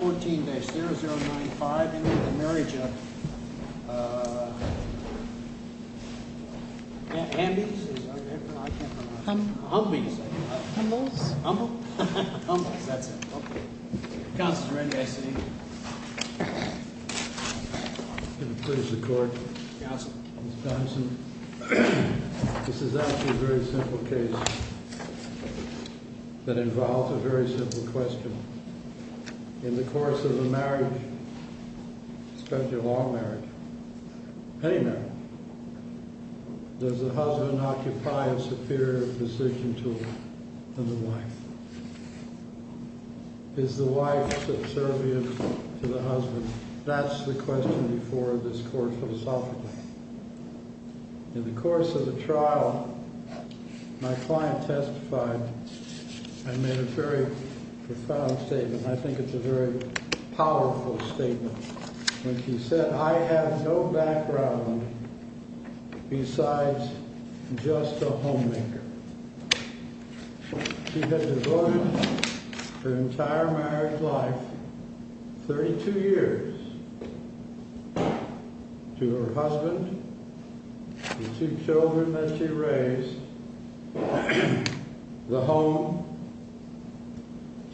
14-0095 into the marriage of, uh, Hamby's? I can't pronounce it. Humble. Humble, you say? Humble's. Humble? Humble's, that's it. Counselor Randy, I see you. Good to please the court. Counselor. Mr. Thompson, this is actually a very simple case that involves a very simple question. In the course of a marriage, especially a long marriage, any marriage, does the husband occupy a superior position to the wife? Is the wife subservient to the husband? That's the question before this court philosophically. In the course of the trial, my client testified and made a very profound statement, and I think it's a very powerful statement, when she said, I have no background besides just a homemaker. She had devoted her entire marriage life, 32 years, to her husband, the two children that she raised, the home.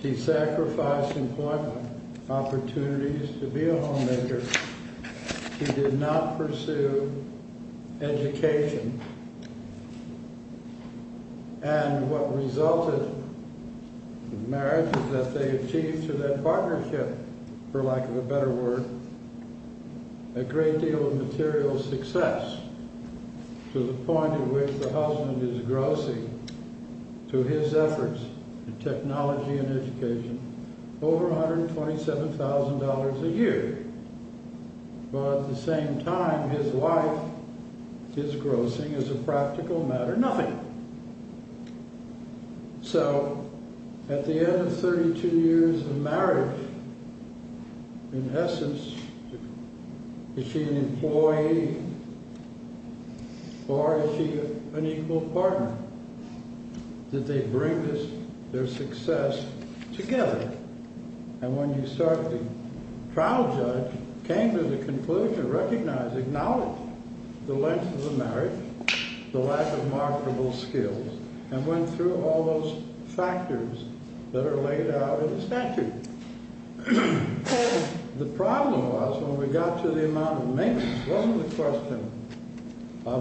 She sacrificed employment opportunities to be a homemaker. She did not pursue education. And what resulted, the marriage that they achieved through that partnership, for lack of a better word, a great deal of material success, to the point at which the husband is grossing, through his efforts in technology and education, over $127,000 a year. But at the same time, his wife is grossing, as a practical matter, nothing. So, at the end of 32 years of marriage, in essence, is she an employee, or is she an equal partner? Did they bring their success together? And when you start the trial judge, came to the conclusion, recognized, acknowledged, the length of the marriage, the lack of marketable skills, and went through all those factors that are laid out in the statute. The problem was, when we got to the amount of maintenance, wasn't the question,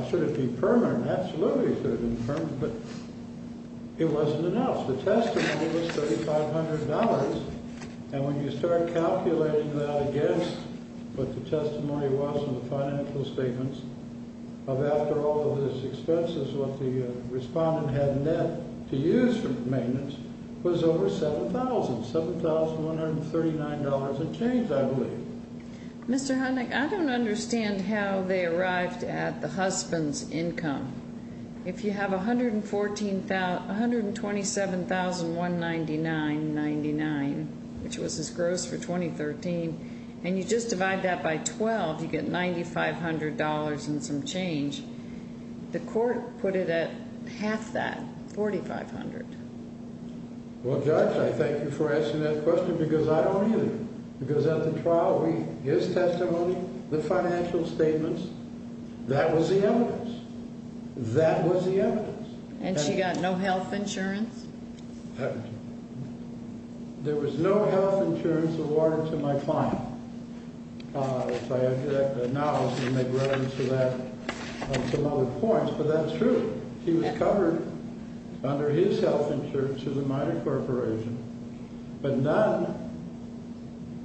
should it be permanent? Absolutely, it should have been permanent, but it wasn't announced. The testimony was $3,500, and when you start calculating that against what the testimony was in the financial statements, of after all of this expenses, what the respondent had in debt to use for maintenance, was over $7,000, $7,139 in change, I believe. Mr. Honig, I don't understand how they arrived at the husband's income. If you have $127,199.99, which was his gross for 2013, and you just divide that by 12, you get $9,500 and some change. The court put it at half that, $4,500. Well, Judge, I thank you for asking that question, because I don't either. Because at the trial, his testimony, the financial statements, that was the evidence. That was the evidence. And she got no health insurance? There was no health insurance awarded to my client. Now I'm going to make reference to that on some other points, but that's true. He was covered under his health insurance through the minor corporation. But none,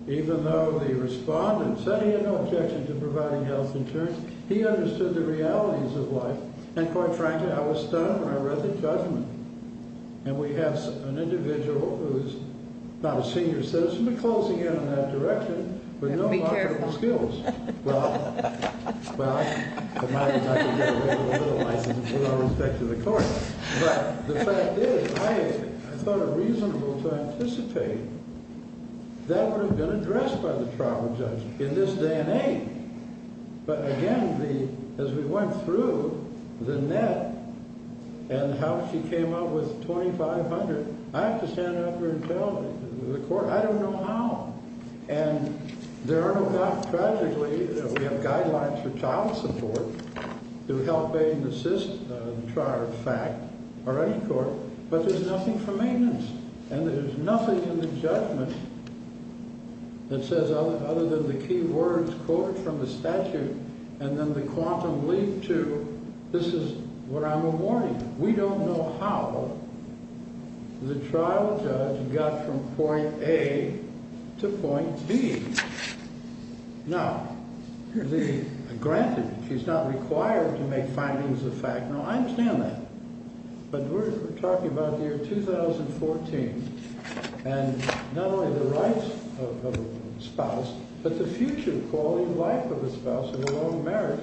even though the respondent said he had no objection to providing health insurance, he understood the realities of life. And quite frankly, I was stunned when I read the judgment. And we have an individual who's not a senior citizen, and she should be closing in on that direction with no comparable skills. Well, I might as well get away with a little license with all respect to the court. But the fact is, I thought it reasonable to anticipate that would have been addressed by the trial judge in this day and age. But again, as we went through the net and how she came up with $2,500, I have to stand up here and tell the court, I don't know how. And there are no doubt, tragically, that we have guidelines for child support to help aid and assist the trial, in fact, or any court, but there's nothing for maintenance. And there's nothing in the judgment that says other than the key words quoted from the statute and then the quantum leap to this is what I'm awarding. We don't know how the trial judge got from point A to point B. Now, granted, she's not required to make findings of fact. No, I understand that. But we're talking about the year 2014. And not only the rights of a spouse, but the future quality of life of a spouse in a long marriage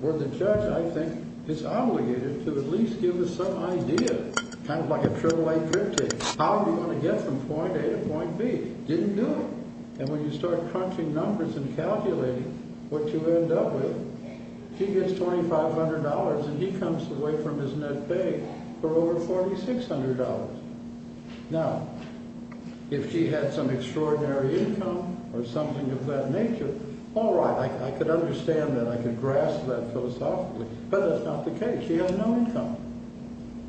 where the judge, I think, is obligated to at least give us some idea, kind of like a pure white drip tape. How do you want to get from point A to point B? Didn't do it. And when you start crunching numbers and calculating what you end up with, she gets $2,500, and he comes away from his net pay for over $4,600. Now, if she had some extraordinary income or something of that nature, all right, I could understand that. I could grasp that philosophically. But that's not the case. She had no income.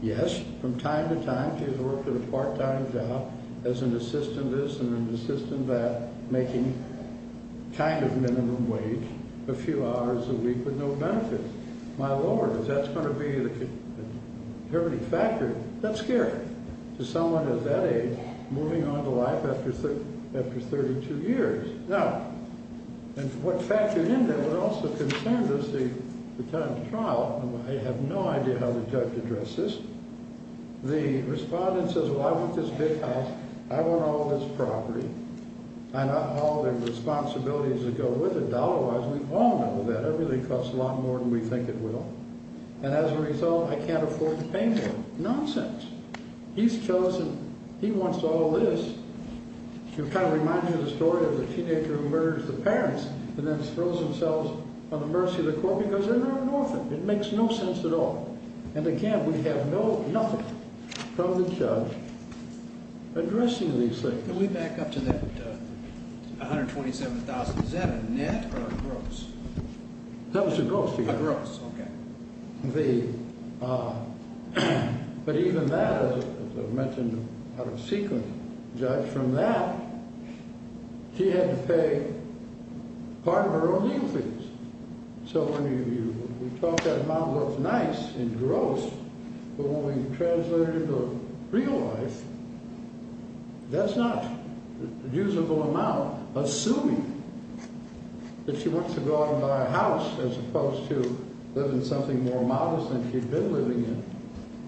Yes, from time to time she's worked at a part-time job as an assistant this and an assistant that, making kind of minimum wage a few hours a week with no benefits. My Lord, if that's going to be the determining factor, that's scary to someone at that age moving on to life after 32 years. Now, and what factored in there but also concerned us, the time of trial, I have no idea how the judge addressed this. The respondent says, well, I want this big house. I want all this property. I want all the responsibilities that go with it. Dollar-wise, we all know that. It really costs a lot more than we think it will. And as a result, I can't afford to pay more. Nonsense. He's chosen. He wants all this. To kind of remind you of the story of the teenager who murders the parents and then throws themselves on the mercy of the court because they're an orphan. It makes no sense at all. And, again, we have nothing from the judge addressing these things. Can we back up to that $127,000? Is that a net or a gross? That was a gross figure. A gross, okay. But even that, as I've mentioned out of sequence, the judge from that, she had to pay part of her own legal fees. So when you talk about what's nice and gross, but when we translate it into real life, that's not a usable amount assuming that she wants to go out and buy a house as opposed to living in something more modest than she'd been living in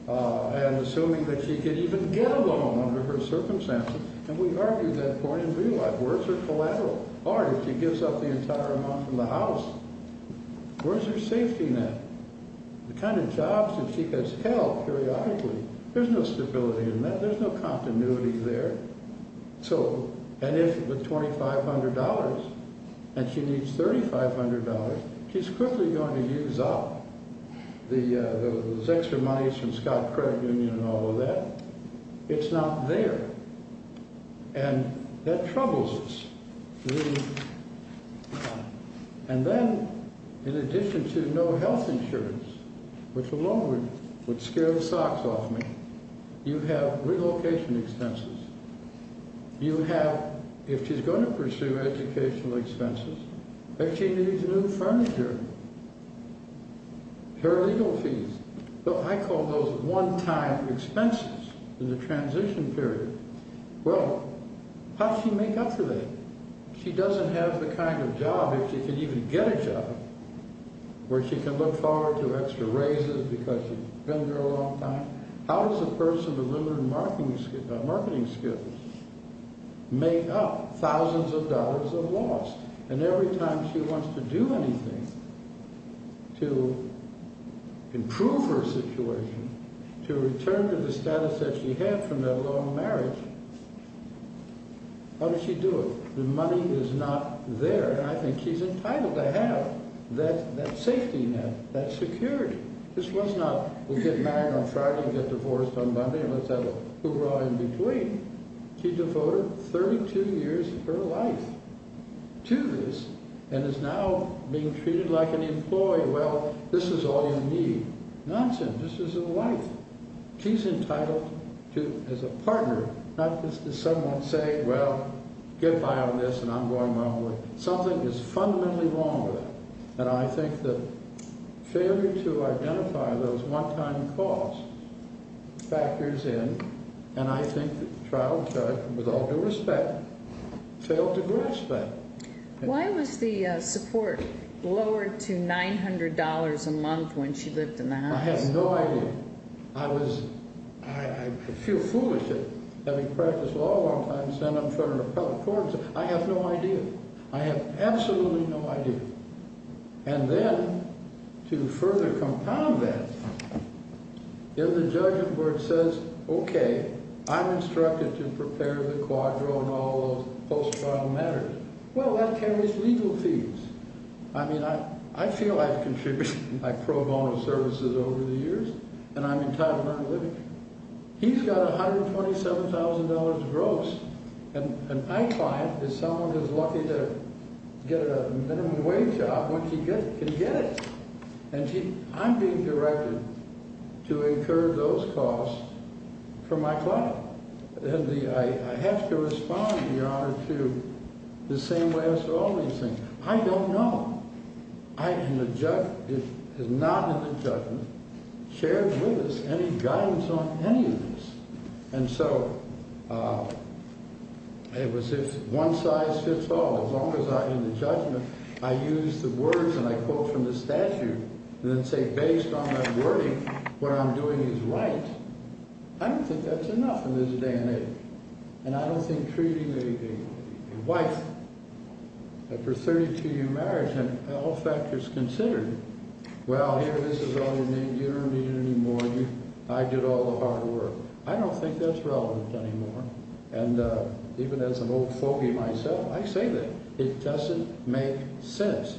and assuming that she could even get a loan under her circumstances. And we argued that point in real life. Words are collateral. Or if she gives up the entire amount from the house, where's her safety net? The kind of jobs that she gets held periodically, there's no stability in that. There's no continuity there. And if with $2,500 and she needs $3,500, she's quickly going to use up those extra monies from Scott Credit Union and all of that. It's not there. And that troubles us. And then in addition to no health insurance, which alone would scare the socks off me, you have relocation expenses. You have, if she's going to pursue educational expenses, if she needs new furniture, her legal fees. I call those one-time expenses in the transition period. Well, how does she make up for that? She doesn't have the kind of job if she could even get a job where she could look forward to extra raises because she's been there a long time. How does a person with limited marketing skills make up thousands of dollars of loss? And every time she wants to do anything to improve her situation, to return to the status that she had from that long marriage, how does she do it? The money is not there. And I think she's entitled to have that safety net, that security. This was not we'll get married on Friday and get divorced on Monday and let's have a hoorah in between. She devoted 32 years of her life to this and is now being treated like an employee. Well, this is all you need. Nonsense. This is her life. She's entitled to, as a partner, not just as someone saying, well, get by on this and I'm going my own way. Something is fundamentally wrong with her. And I think the failure to identify those one-time costs factors in, and I think the trial judge, with all due respect, failed to grasp that. Why was the support lowered to $900 a month when she lived in the house? I have no idea. I feel foolish having practiced law a long time, and then I'm trying to repel a court. I have no idea. I have absolutely no idea. And then, to further compound that, if the judgment board says, okay, I'm instructed to prepare the quadro and all those post-trial matters, well, that carries legal fees. I mean, I feel I've contributed my pro bono services over the years, and I'm entitled to that. He's got $127,000 gross, and my client is someone who's lucky to get a minimum wage job when she can get it. And I'm being directed to incur those costs for my client. I have to respond, Your Honor, to the same way as to all these things. I don't know. It is not in the judgment shared with us any guidance on any of this. And so it was this one-size-fits-all. As long as I'm in the judgment, I use the words and I quote from the statute and then say, based on that wording, what I'm doing is right. I don't think that's enough in this day and age, and I don't think treating a wife after a 32-year marriage and all factors considered, well, here, this is all you need. You don't need it anymore. I did all the hard work. I don't think that's relevant anymore. And even as an old fogey myself, I say that. It doesn't make sense.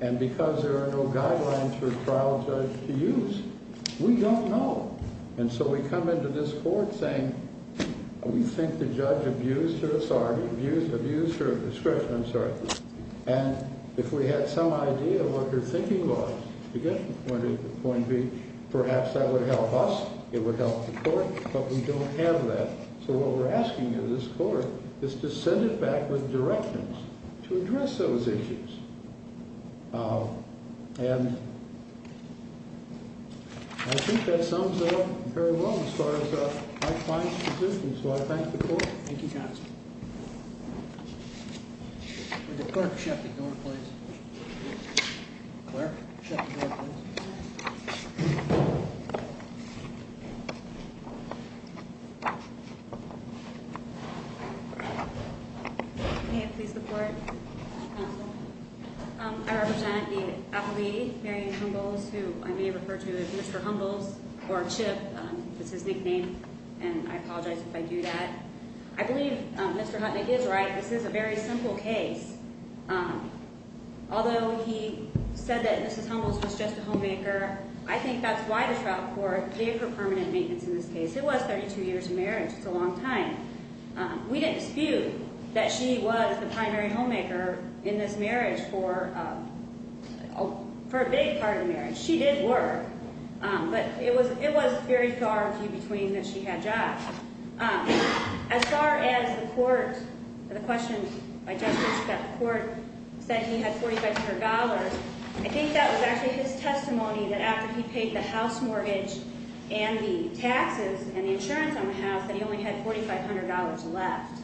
And because there are no guidelines for a trial judge to use, we don't know. And so we come into this court saying we think the judge abused her authority, abused her discretion, I'm sorry, and if we had some idea of what her thinking was, point B, perhaps that would help us, it would help the court, but we don't have that. So what we're asking of this court is to send it back with directions to address those issues. And I think that sums it up very well as far as my client's position. So I thank the court. Thank you, Johnson. Would the clerk shut the door, please? Clerk, shut the door, please. May I please report, counsel? I represent the affilee, Marianne Humbles, who I may refer to as Mr. Humbles or Chip. It's his nickname, and I apologize if I do that. I believe Mr. Hutnick is right. This is a very simple case. Although he said that Mrs. Humbles was just a homemaker, I think that's why the trial court gave her permanent maintenance in this case. It was 32 years of marriage. It's a long time. We didn't dispute that she was the primary homemaker in this marriage for a big part of the marriage. She did work. But it was very far between that she had jobs. As far as the court or the question by justice that the court said he had $4,500, I think that was actually his testimony that after he paid the house mortgage and the taxes and the insurance on the house that he only had $4,500 left.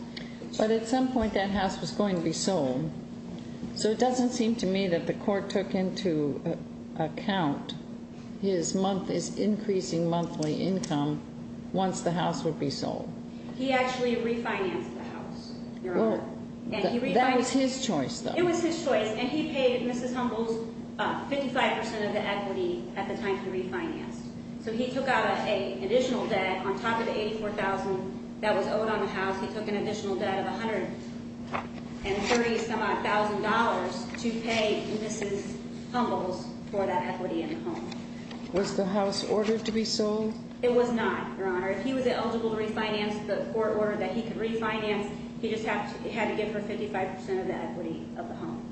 But at some point that house was going to be sold. So it doesn't seem to me that the court took into account his month is increasing monthly income once the house would be sold. He actually refinanced the house. That was his choice, though. It was his choice, and he paid Mrs. Humbles 55% of the equity at the time he refinanced. So he took out an additional debt on top of the $84,000 that was owed on the house. He took an additional debt of $130,000 to pay Mrs. Humbles for that equity in the home. Was the house ordered to be sold? It was not, Your Honor. If he was eligible to refinance, the court ordered that he could refinance. He just had to give her 55% of the equity of the home.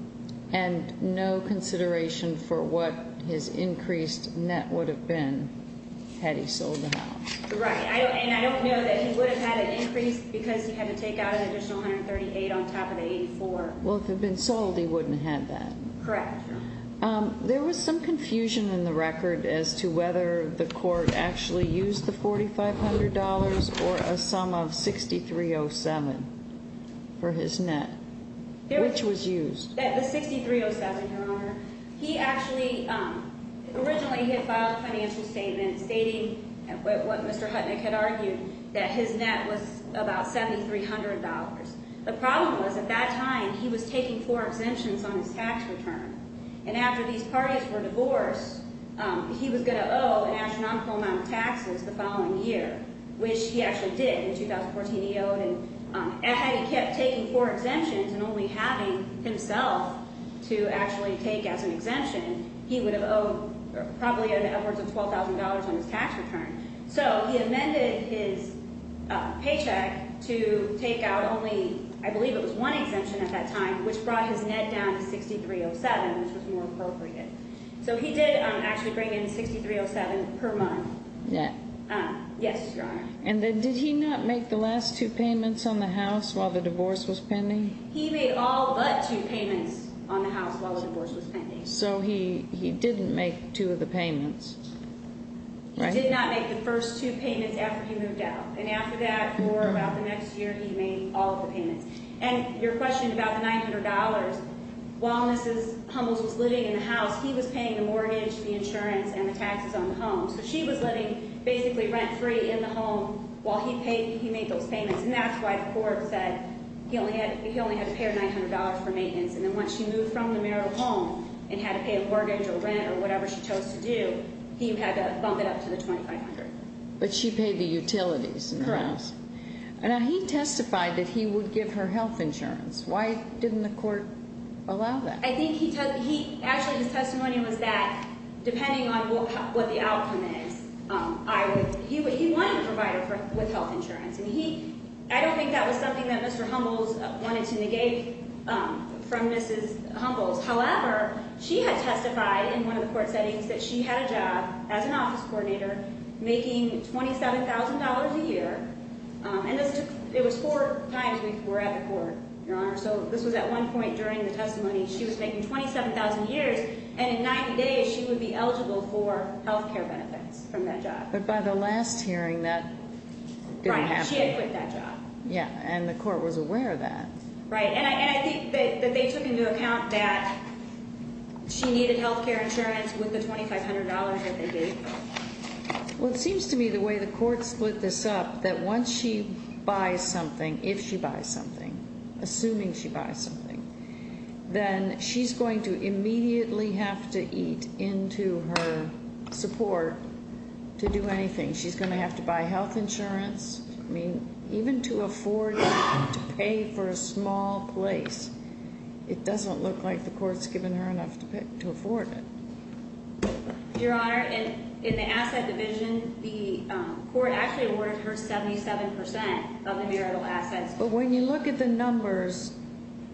And no consideration for what his increased net would have been had he sold the house. Right. And I don't know that he would have had an increase because he had to take out an additional $138,000 on top of the $84,000. Well, if it had been sold, he wouldn't have had that. Correct. There was some confusion in the record as to whether the court actually used the $4,500 or a sum of $6,307 for his net. Which was used? The $6,307, Your Honor. He actually originally had filed a financial statement stating what Mr. Hutnick had argued, that his net was about $7,300. The problem was at that time he was taking four exemptions on his tax return. And after these parties were divorced, he was going to owe an astronomical amount of taxes the following year, which he actually did. In 2014 he owed, and had he kept taking four exemptions and only having himself to actually take as an exemption, he would have probably owed upwards of $12,000 on his tax return. So he amended his paycheck to take out only, I believe it was one exemption at that time, which brought his net down to $6,307, which was more appropriate. So he did actually bring in $6,307 per month. Net? Yes, Your Honor. And then did he not make the last two payments on the house while the divorce was pending? He made all but two payments on the house while the divorce was pending. So he didn't make two of the payments, right? He did not make the first two payments after he moved out. And after that, for about the next year, he made all of the payments. And your question about the $900, while Mrs. Hummels was living in the house, he was paying the mortgage, the insurance, and the taxes on the home. So she was living basically rent-free in the home while he made those payments. And that's why the court said he only had to pay her $900 for maintenance. And then once she moved from the marital home and had to pay a mortgage or rent or whatever she chose to do, he had to bump it up to the $2,500. But she paid the utilities in the house. Correct. Now, he testified that he would give her health insurance. Why didn't the court allow that? Actually, his testimony was that depending on what the outcome is, he wanted to provide her with health insurance. And I don't think that was something that Mr. Hummels wanted to negate from Mrs. Hummels. However, she had testified in one of the court settings that she had a job as an office coordinator making $27,000 a year. And it was four times before at the court, Your Honor. So this was at one point during the testimony. She was making $27,000 a year, and in 90 days she would be eligible for health care benefits from that job. But by the last hearing, that didn't happen. Right. She had quit that job. Yeah. And the court was aware of that. Right. And I think that they took into account that she needed health care insurance with the $2,500 that they gave her. Well, it seems to me the way the court split this up, that once she buys something, if she buys something, assuming she buys something, then she's going to immediately have to eat into her support to do anything. She's going to have to buy health insurance. I mean, even to afford to pay for a small place, it doesn't look like the court's given her enough to afford it. Your Honor, in the asset division, the court actually awarded her 77% of the marital assets. But when you look at the numbers,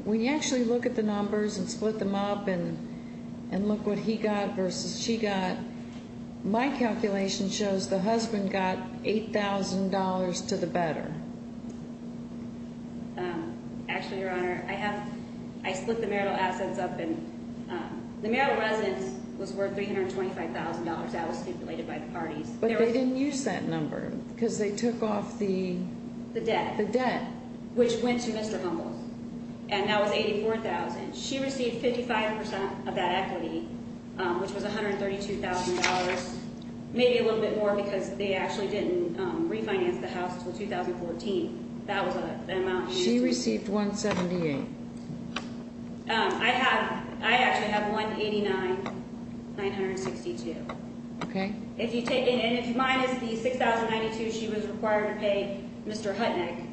when you actually look at the numbers and split them up and look what he got versus she got, my calculation shows the husband got $8,000 to the better. Actually, Your Honor, I split the marital assets up and the marital residence was worth $325,000. That was stipulated by the parties. But they didn't use that number because they took off the debt. The debt, which went to Mr. Humboldt, and that was $84,000. She received 55% of that equity, which was $132,000, maybe a little bit more because they actually didn't refinance the house until 2014. That was an amount. She received $178,000. I actually have $189,962. Okay. And if you minus the $6,092, she was required to pay Mr. Hutnick.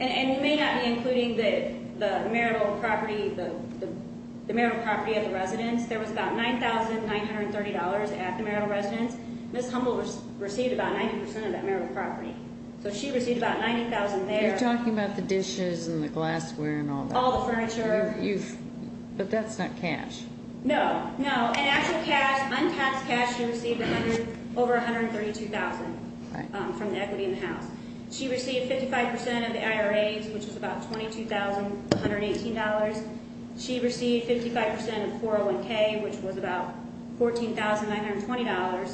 And you may not be including the marital property of the residence. There was about $9,930 at the marital residence. Ms. Humboldt received about 90% of that marital property. So she received about $90,000 there. You're talking about the dishes and the glassware and all that. All the furniture. But that's not cash. No, no. In actual cash, untaxed cash, she received over $132,000 from the equity in the house. She received 55% of the IRAs, which was about $22,118. She received 55% of 401K, which was about $14,920.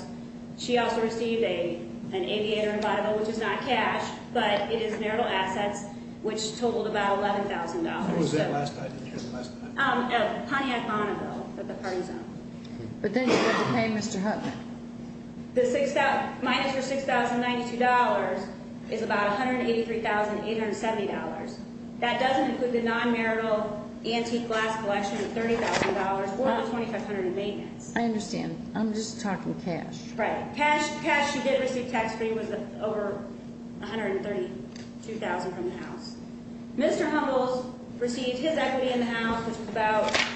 She also received an aviator and Bible, which is not cash, but it is marital assets, which totaled about $11,000. When was that last time? Did you hear the last time? At Pontiac Bonneville at the party zone. But then you had to pay Mr. Hutnick. The minus for $6,092 is about $183,870. That doesn't include the non-marital antique glass collection of $30,000 or the $2,500 of maintenance. I understand. I'm just talking cash. Right. Cash she did receive tax-free was over $132,000 from the house. Mr. Humbles received his equity in the house, which was about –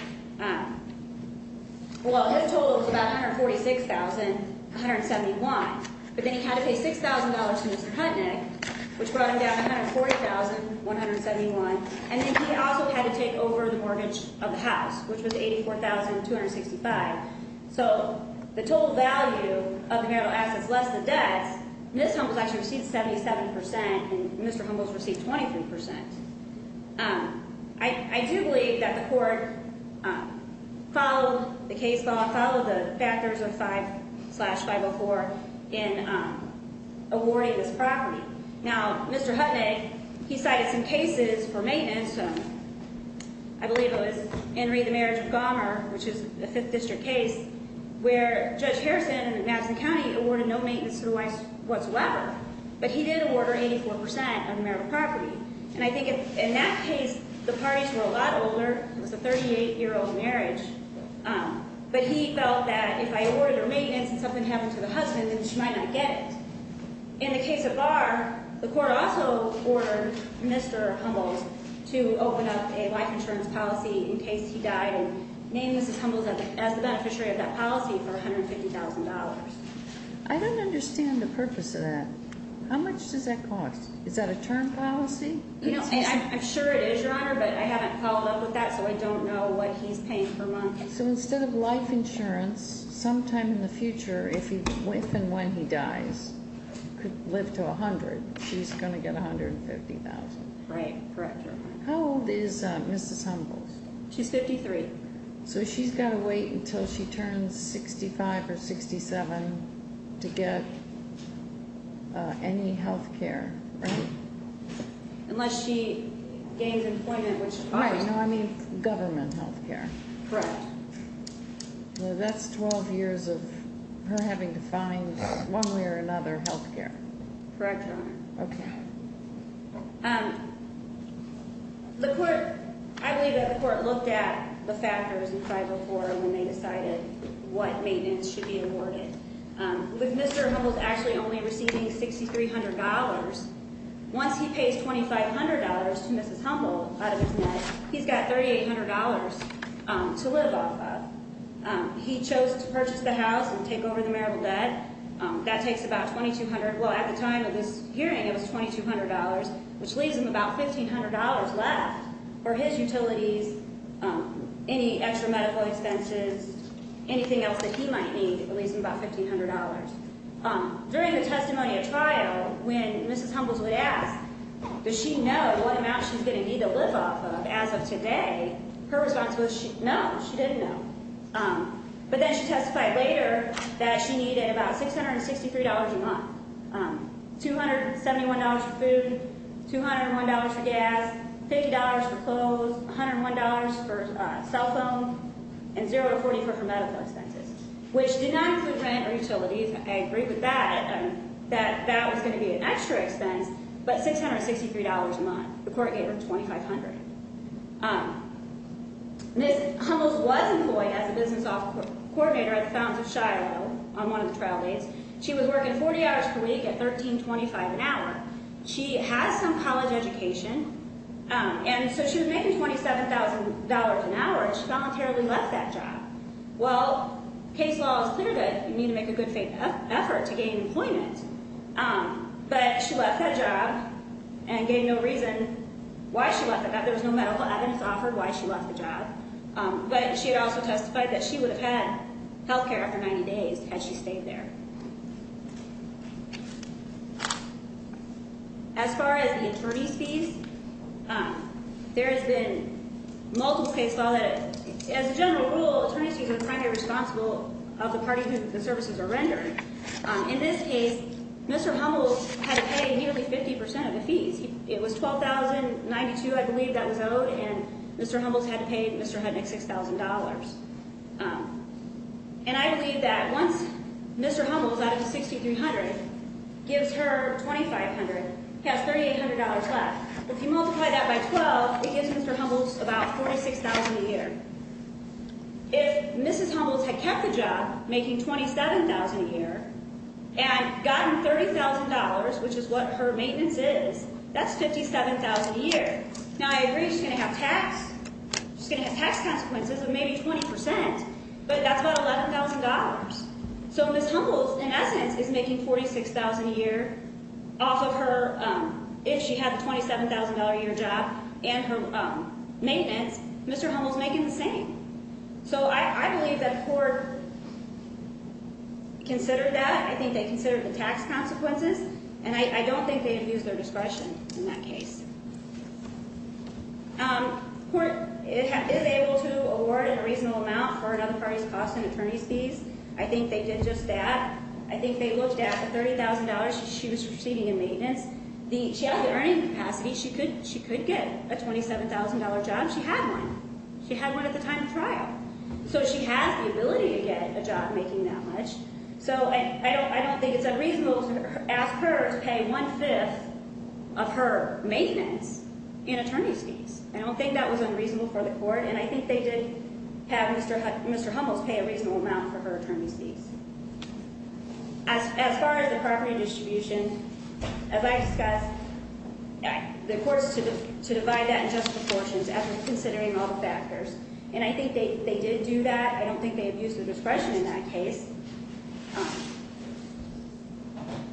well, his total was about $146,171. But then he had to pay $6,000 to Mr. Hutnick, which brought him down to $140,171. And then he also had to take over the mortgage of the house, which was $84,265. So the total value of the marital assets less the debts. Ms. Humbles actually received 77%, and Mr. Humbles received 23%. I do believe that the court followed the case law, followed the factors of 5-504 in awarding this property. Now, Mr. Hutnick, he cited some cases for maintenance. I believe it was Henry the Marriage of Gomer, which is a 5th District case, where Judge Harrison in Madison County awarded no maintenance to the wife whatsoever. But he did award her 84% of the marital property. And I think in that case, the parties were a lot older. It was a 38-year-old marriage. But he felt that if I awarded her maintenance and something happened to the husband, then she might not get it. In the case of Barr, the court also ordered Mr. Humbles to open up a life insurance policy in case he died, and named Mrs. Humbles as the beneficiary of that policy for $150,000. I don't understand the purpose of that. How much does that cost? Is that a term policy? I'm sure it is, Your Honor, but I haven't followed up with that, so I don't know what he's paying per month. So instead of life insurance, sometime in the future, if and when he dies, could live to 100, she's going to get $150,000. Right, correct, Your Honor. How old is Mrs. Humbles? She's 53. So she's got to wait until she turns 65 or 67 to get any healthcare, right? Unless she gains employment, which is correct. Right, no, I mean government healthcare. Correct. That's 12 years of her having to find one way or another healthcare. Correct, Your Honor. Okay. The court, I believe that the court looked at the factors in 504 when they decided what maintenance should be awarded. With Mr. Humbles actually only receiving $6,300, once he pays $2,500 to Mrs. Humble out of his net, he's got $3,800 to live off of. He chose to purchase the house and take over the marital debt. That takes about $2,200. Well, at the time of this hearing, it was $2,200, which leaves him about $1,500 left for his utilities, any extra medical expenses, anything else that he might need. It leaves him about $1,500. During the testimony at trial, when Mrs. Humbles was asked, does she know what amount she's going to need to live off of as of today, her response was no, she didn't know. But then she testified later that she needed about $663 a month, $271 for food, $201 for gas, $50 for clothes, $101 for cell phone, and $0 to $40 for her medical expenses, which did not include rent or utilities. I agree with that, that that was going to be an extra expense, but $663 a month. The court gave her $2,500. Mrs. Humbles was employed as a business coordinator at the Fountains of Shiloh on one of the trial days. She was working 40 hours per week at $13.25 an hour. She has some college education, and so she was making $27,000 an hour, and she voluntarily left that job. Well, case law is clear that you need to make a good effort to gain employment, but she left that job and gave no reason why she left it. There was no medical evidence offered why she left the job, but she had also testified that she would have had health care after 90 days had she stayed there. As far as the attorney's fees, there has been multiple case law that, as a general rule, attorneys fees are primarily responsible of the party to whom the services are rendered. In this case, Mr. Humbles had to pay nearly 50 percent of the fees. It was $12,092, I believe, that was owed, and Mr. Humbles had to pay Mr. Hudnick $6,000. And I believe that once Mr. Humbles, out of the $6,300, gives her $2,500, he has $3,800 left. If you multiply that by 12, it gives Mr. Humbles about $46,000 a year. If Mrs. Humbles had kept the job making $27,000 a year and gotten $30,000, which is what her maintenance is, that's $57,000 a year. Now, I agree she's going to have tax consequences of maybe 20 percent, but that's about $11,000. So Mrs. Humbles, in essence, is making $46,000 a year off of her, if she had the $27,000 a year job and her maintenance, Mr. Humbles making the same. So I believe that the court considered that. I think they considered the tax consequences, and I don't think they have used their discretion in that case. The court is able to award a reasonable amount for another party's cost and attorney's fees. I think they did just that. I think they looked at the $30,000 she was receiving in maintenance. She had the earning capacity. She could get a $27,000 job. She had one. She had one at the time of trial. So she has the ability to get a job making that much. So I don't think it's unreasonable to ask her to pay one-fifth of her maintenance in attorney's fees. I don't think that was unreasonable for the court, and I think they did have Mr. Humbles pay a reasonable amount for her attorney's fees. As far as the property distribution, as I discussed, the court is to divide that in just proportions after considering all the factors. And I think they did do that. I don't think they have used their discretion in that case.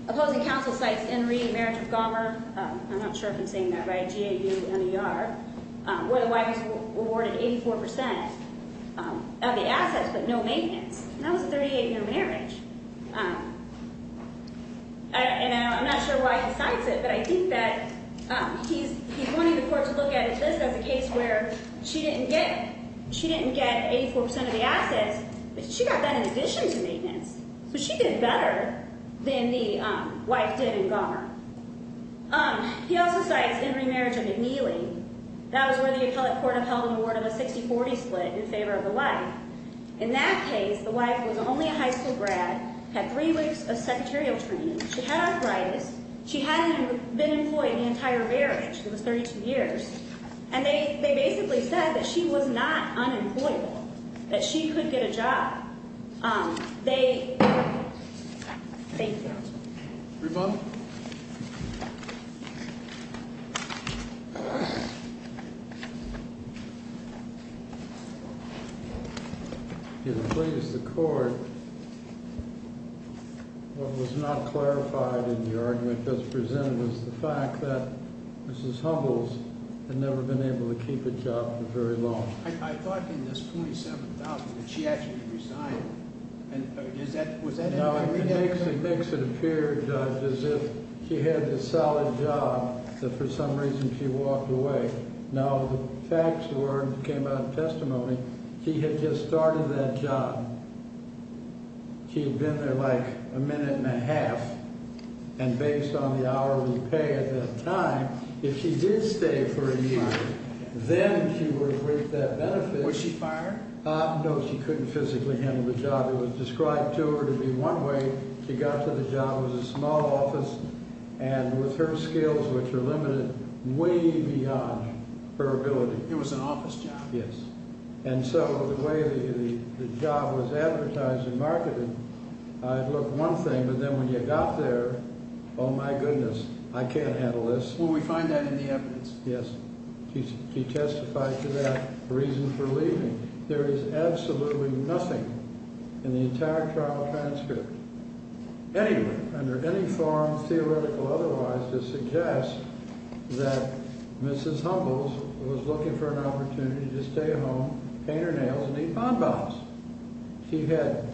Opposing counsel cites N. Reid, marriage of Gomer. I'm not sure if I'm saying that right, G-A-U-M-E-R, where the wife is awarded 84% of the assets but no maintenance. That was a 38-year marriage. And I'm not sure why he cites it, but I think that he's wanting the court to look at this as a case where she didn't get 84% of the assets, but she got that in addition to maintenance. So she did better than the wife did in Gomer. He also cites Henry marriage of McNeely. That was where the appellate court upheld an award of a 60-40 split in favor of the wife. In that case, the wife was only a high school grad, had three weeks of secretarial training. She had arthritis. She hadn't been employed in the entire marriage. It was 32 years. And they basically said that she was not unemployable, that she could get a job. Thank you. Rebuttal? If you'll please the court, what was not clarified in the argument that was presented was the fact that Mrs. Hubbles had never been able to keep a job for very long. I thought in this $27,000 that she actually resigned. Now, it makes it appear, Judge, as if she had a solid job that for some reason she walked away. Now, the facts were and came out of testimony, she had just started that job. She had been there like a minute and a half. And based on the hourly pay at that time, if she did stay for a year, then she would reap that benefit. Was she fired? No, she couldn't physically handle the job. It was described to her to be one way she got to the job was a small office and with her skills, which were limited way beyond her ability. It was an office job. Yes. And so the way the job was advertised and marketed, I'd look one thing, but then when you got there, oh, my goodness, I can't handle this. Well, we find that in the evidence. Yes. She testified to that reason for leaving. There is absolutely nothing in the entire trial transcript, anyway, under any form, theoretical or otherwise, to suggest that Mrs. Humbles was looking for an opportunity to stay at home, paint her nails and eat hot dogs. She had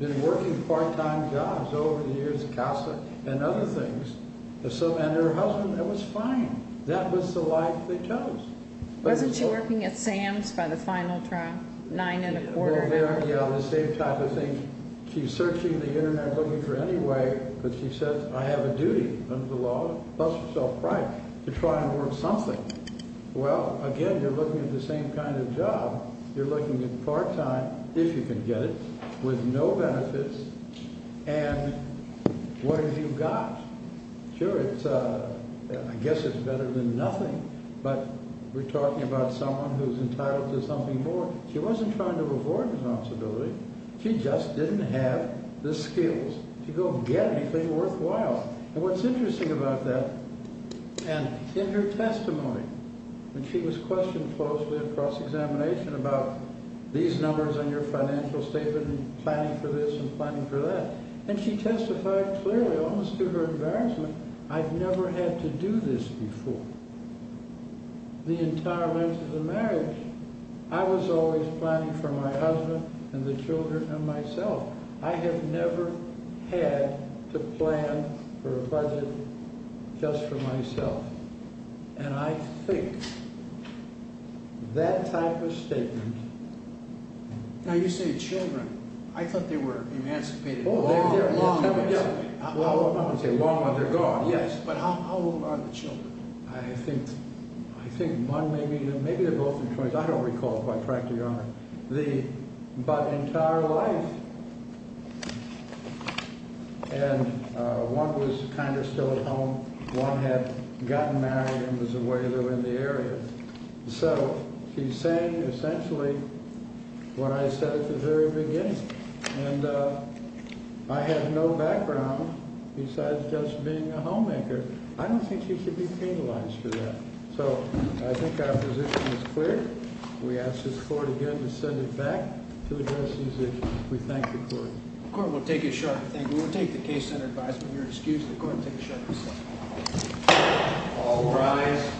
been working part time jobs over the years at Casa and other things. And her husband, it was fine. That was the life they chose. Wasn't she working at Sam's by the final trial? Nine and a quarter. Yeah, the same type of thing. She's searching the Internet, looking for any way. But she said, I have a duty under the law to try and work something. Well, again, you're looking at the same kind of job. You're looking at part time if you can get it with no benefits. And what have you got? Sure. I guess it's better than nothing. But we're talking about someone who's entitled to something more. She wasn't trying to avoid responsibility. She just didn't have the skills to go get anything worthwhile. And what's interesting about that, and in her testimony, when she was questioned closely at cross-examination about these numbers on your financial statement and planning for this and planning for that. And she testified clearly, almost to her embarrassment, I've never had to do this before. The entire length of the marriage, I was always planning for my husband and the children and myself. I have never had to plan for a budget just for myself. Now, you say children. I thought they were emancipated. Oh, they're here long ago. Well, I wouldn't say long, but they're gone. Yes. But how old are the children? I think, I think one, maybe, maybe they're both in twenties. I don't recall, quite frankly, Your Honor. The, but entire life. And one was kind of still at home. One had gotten married and was away in the area. So, she's saying essentially what I said at the very beginning. And I have no background besides just being a homemaker. I don't think she should be penalized for that. So, I think our position is clear. We ask this Court again to send it back to address these issues. We thank the Court. The Court will take a shot at the thing. We will take the case under advisement. You're excused. The Court will take a shot at this thing. All rise.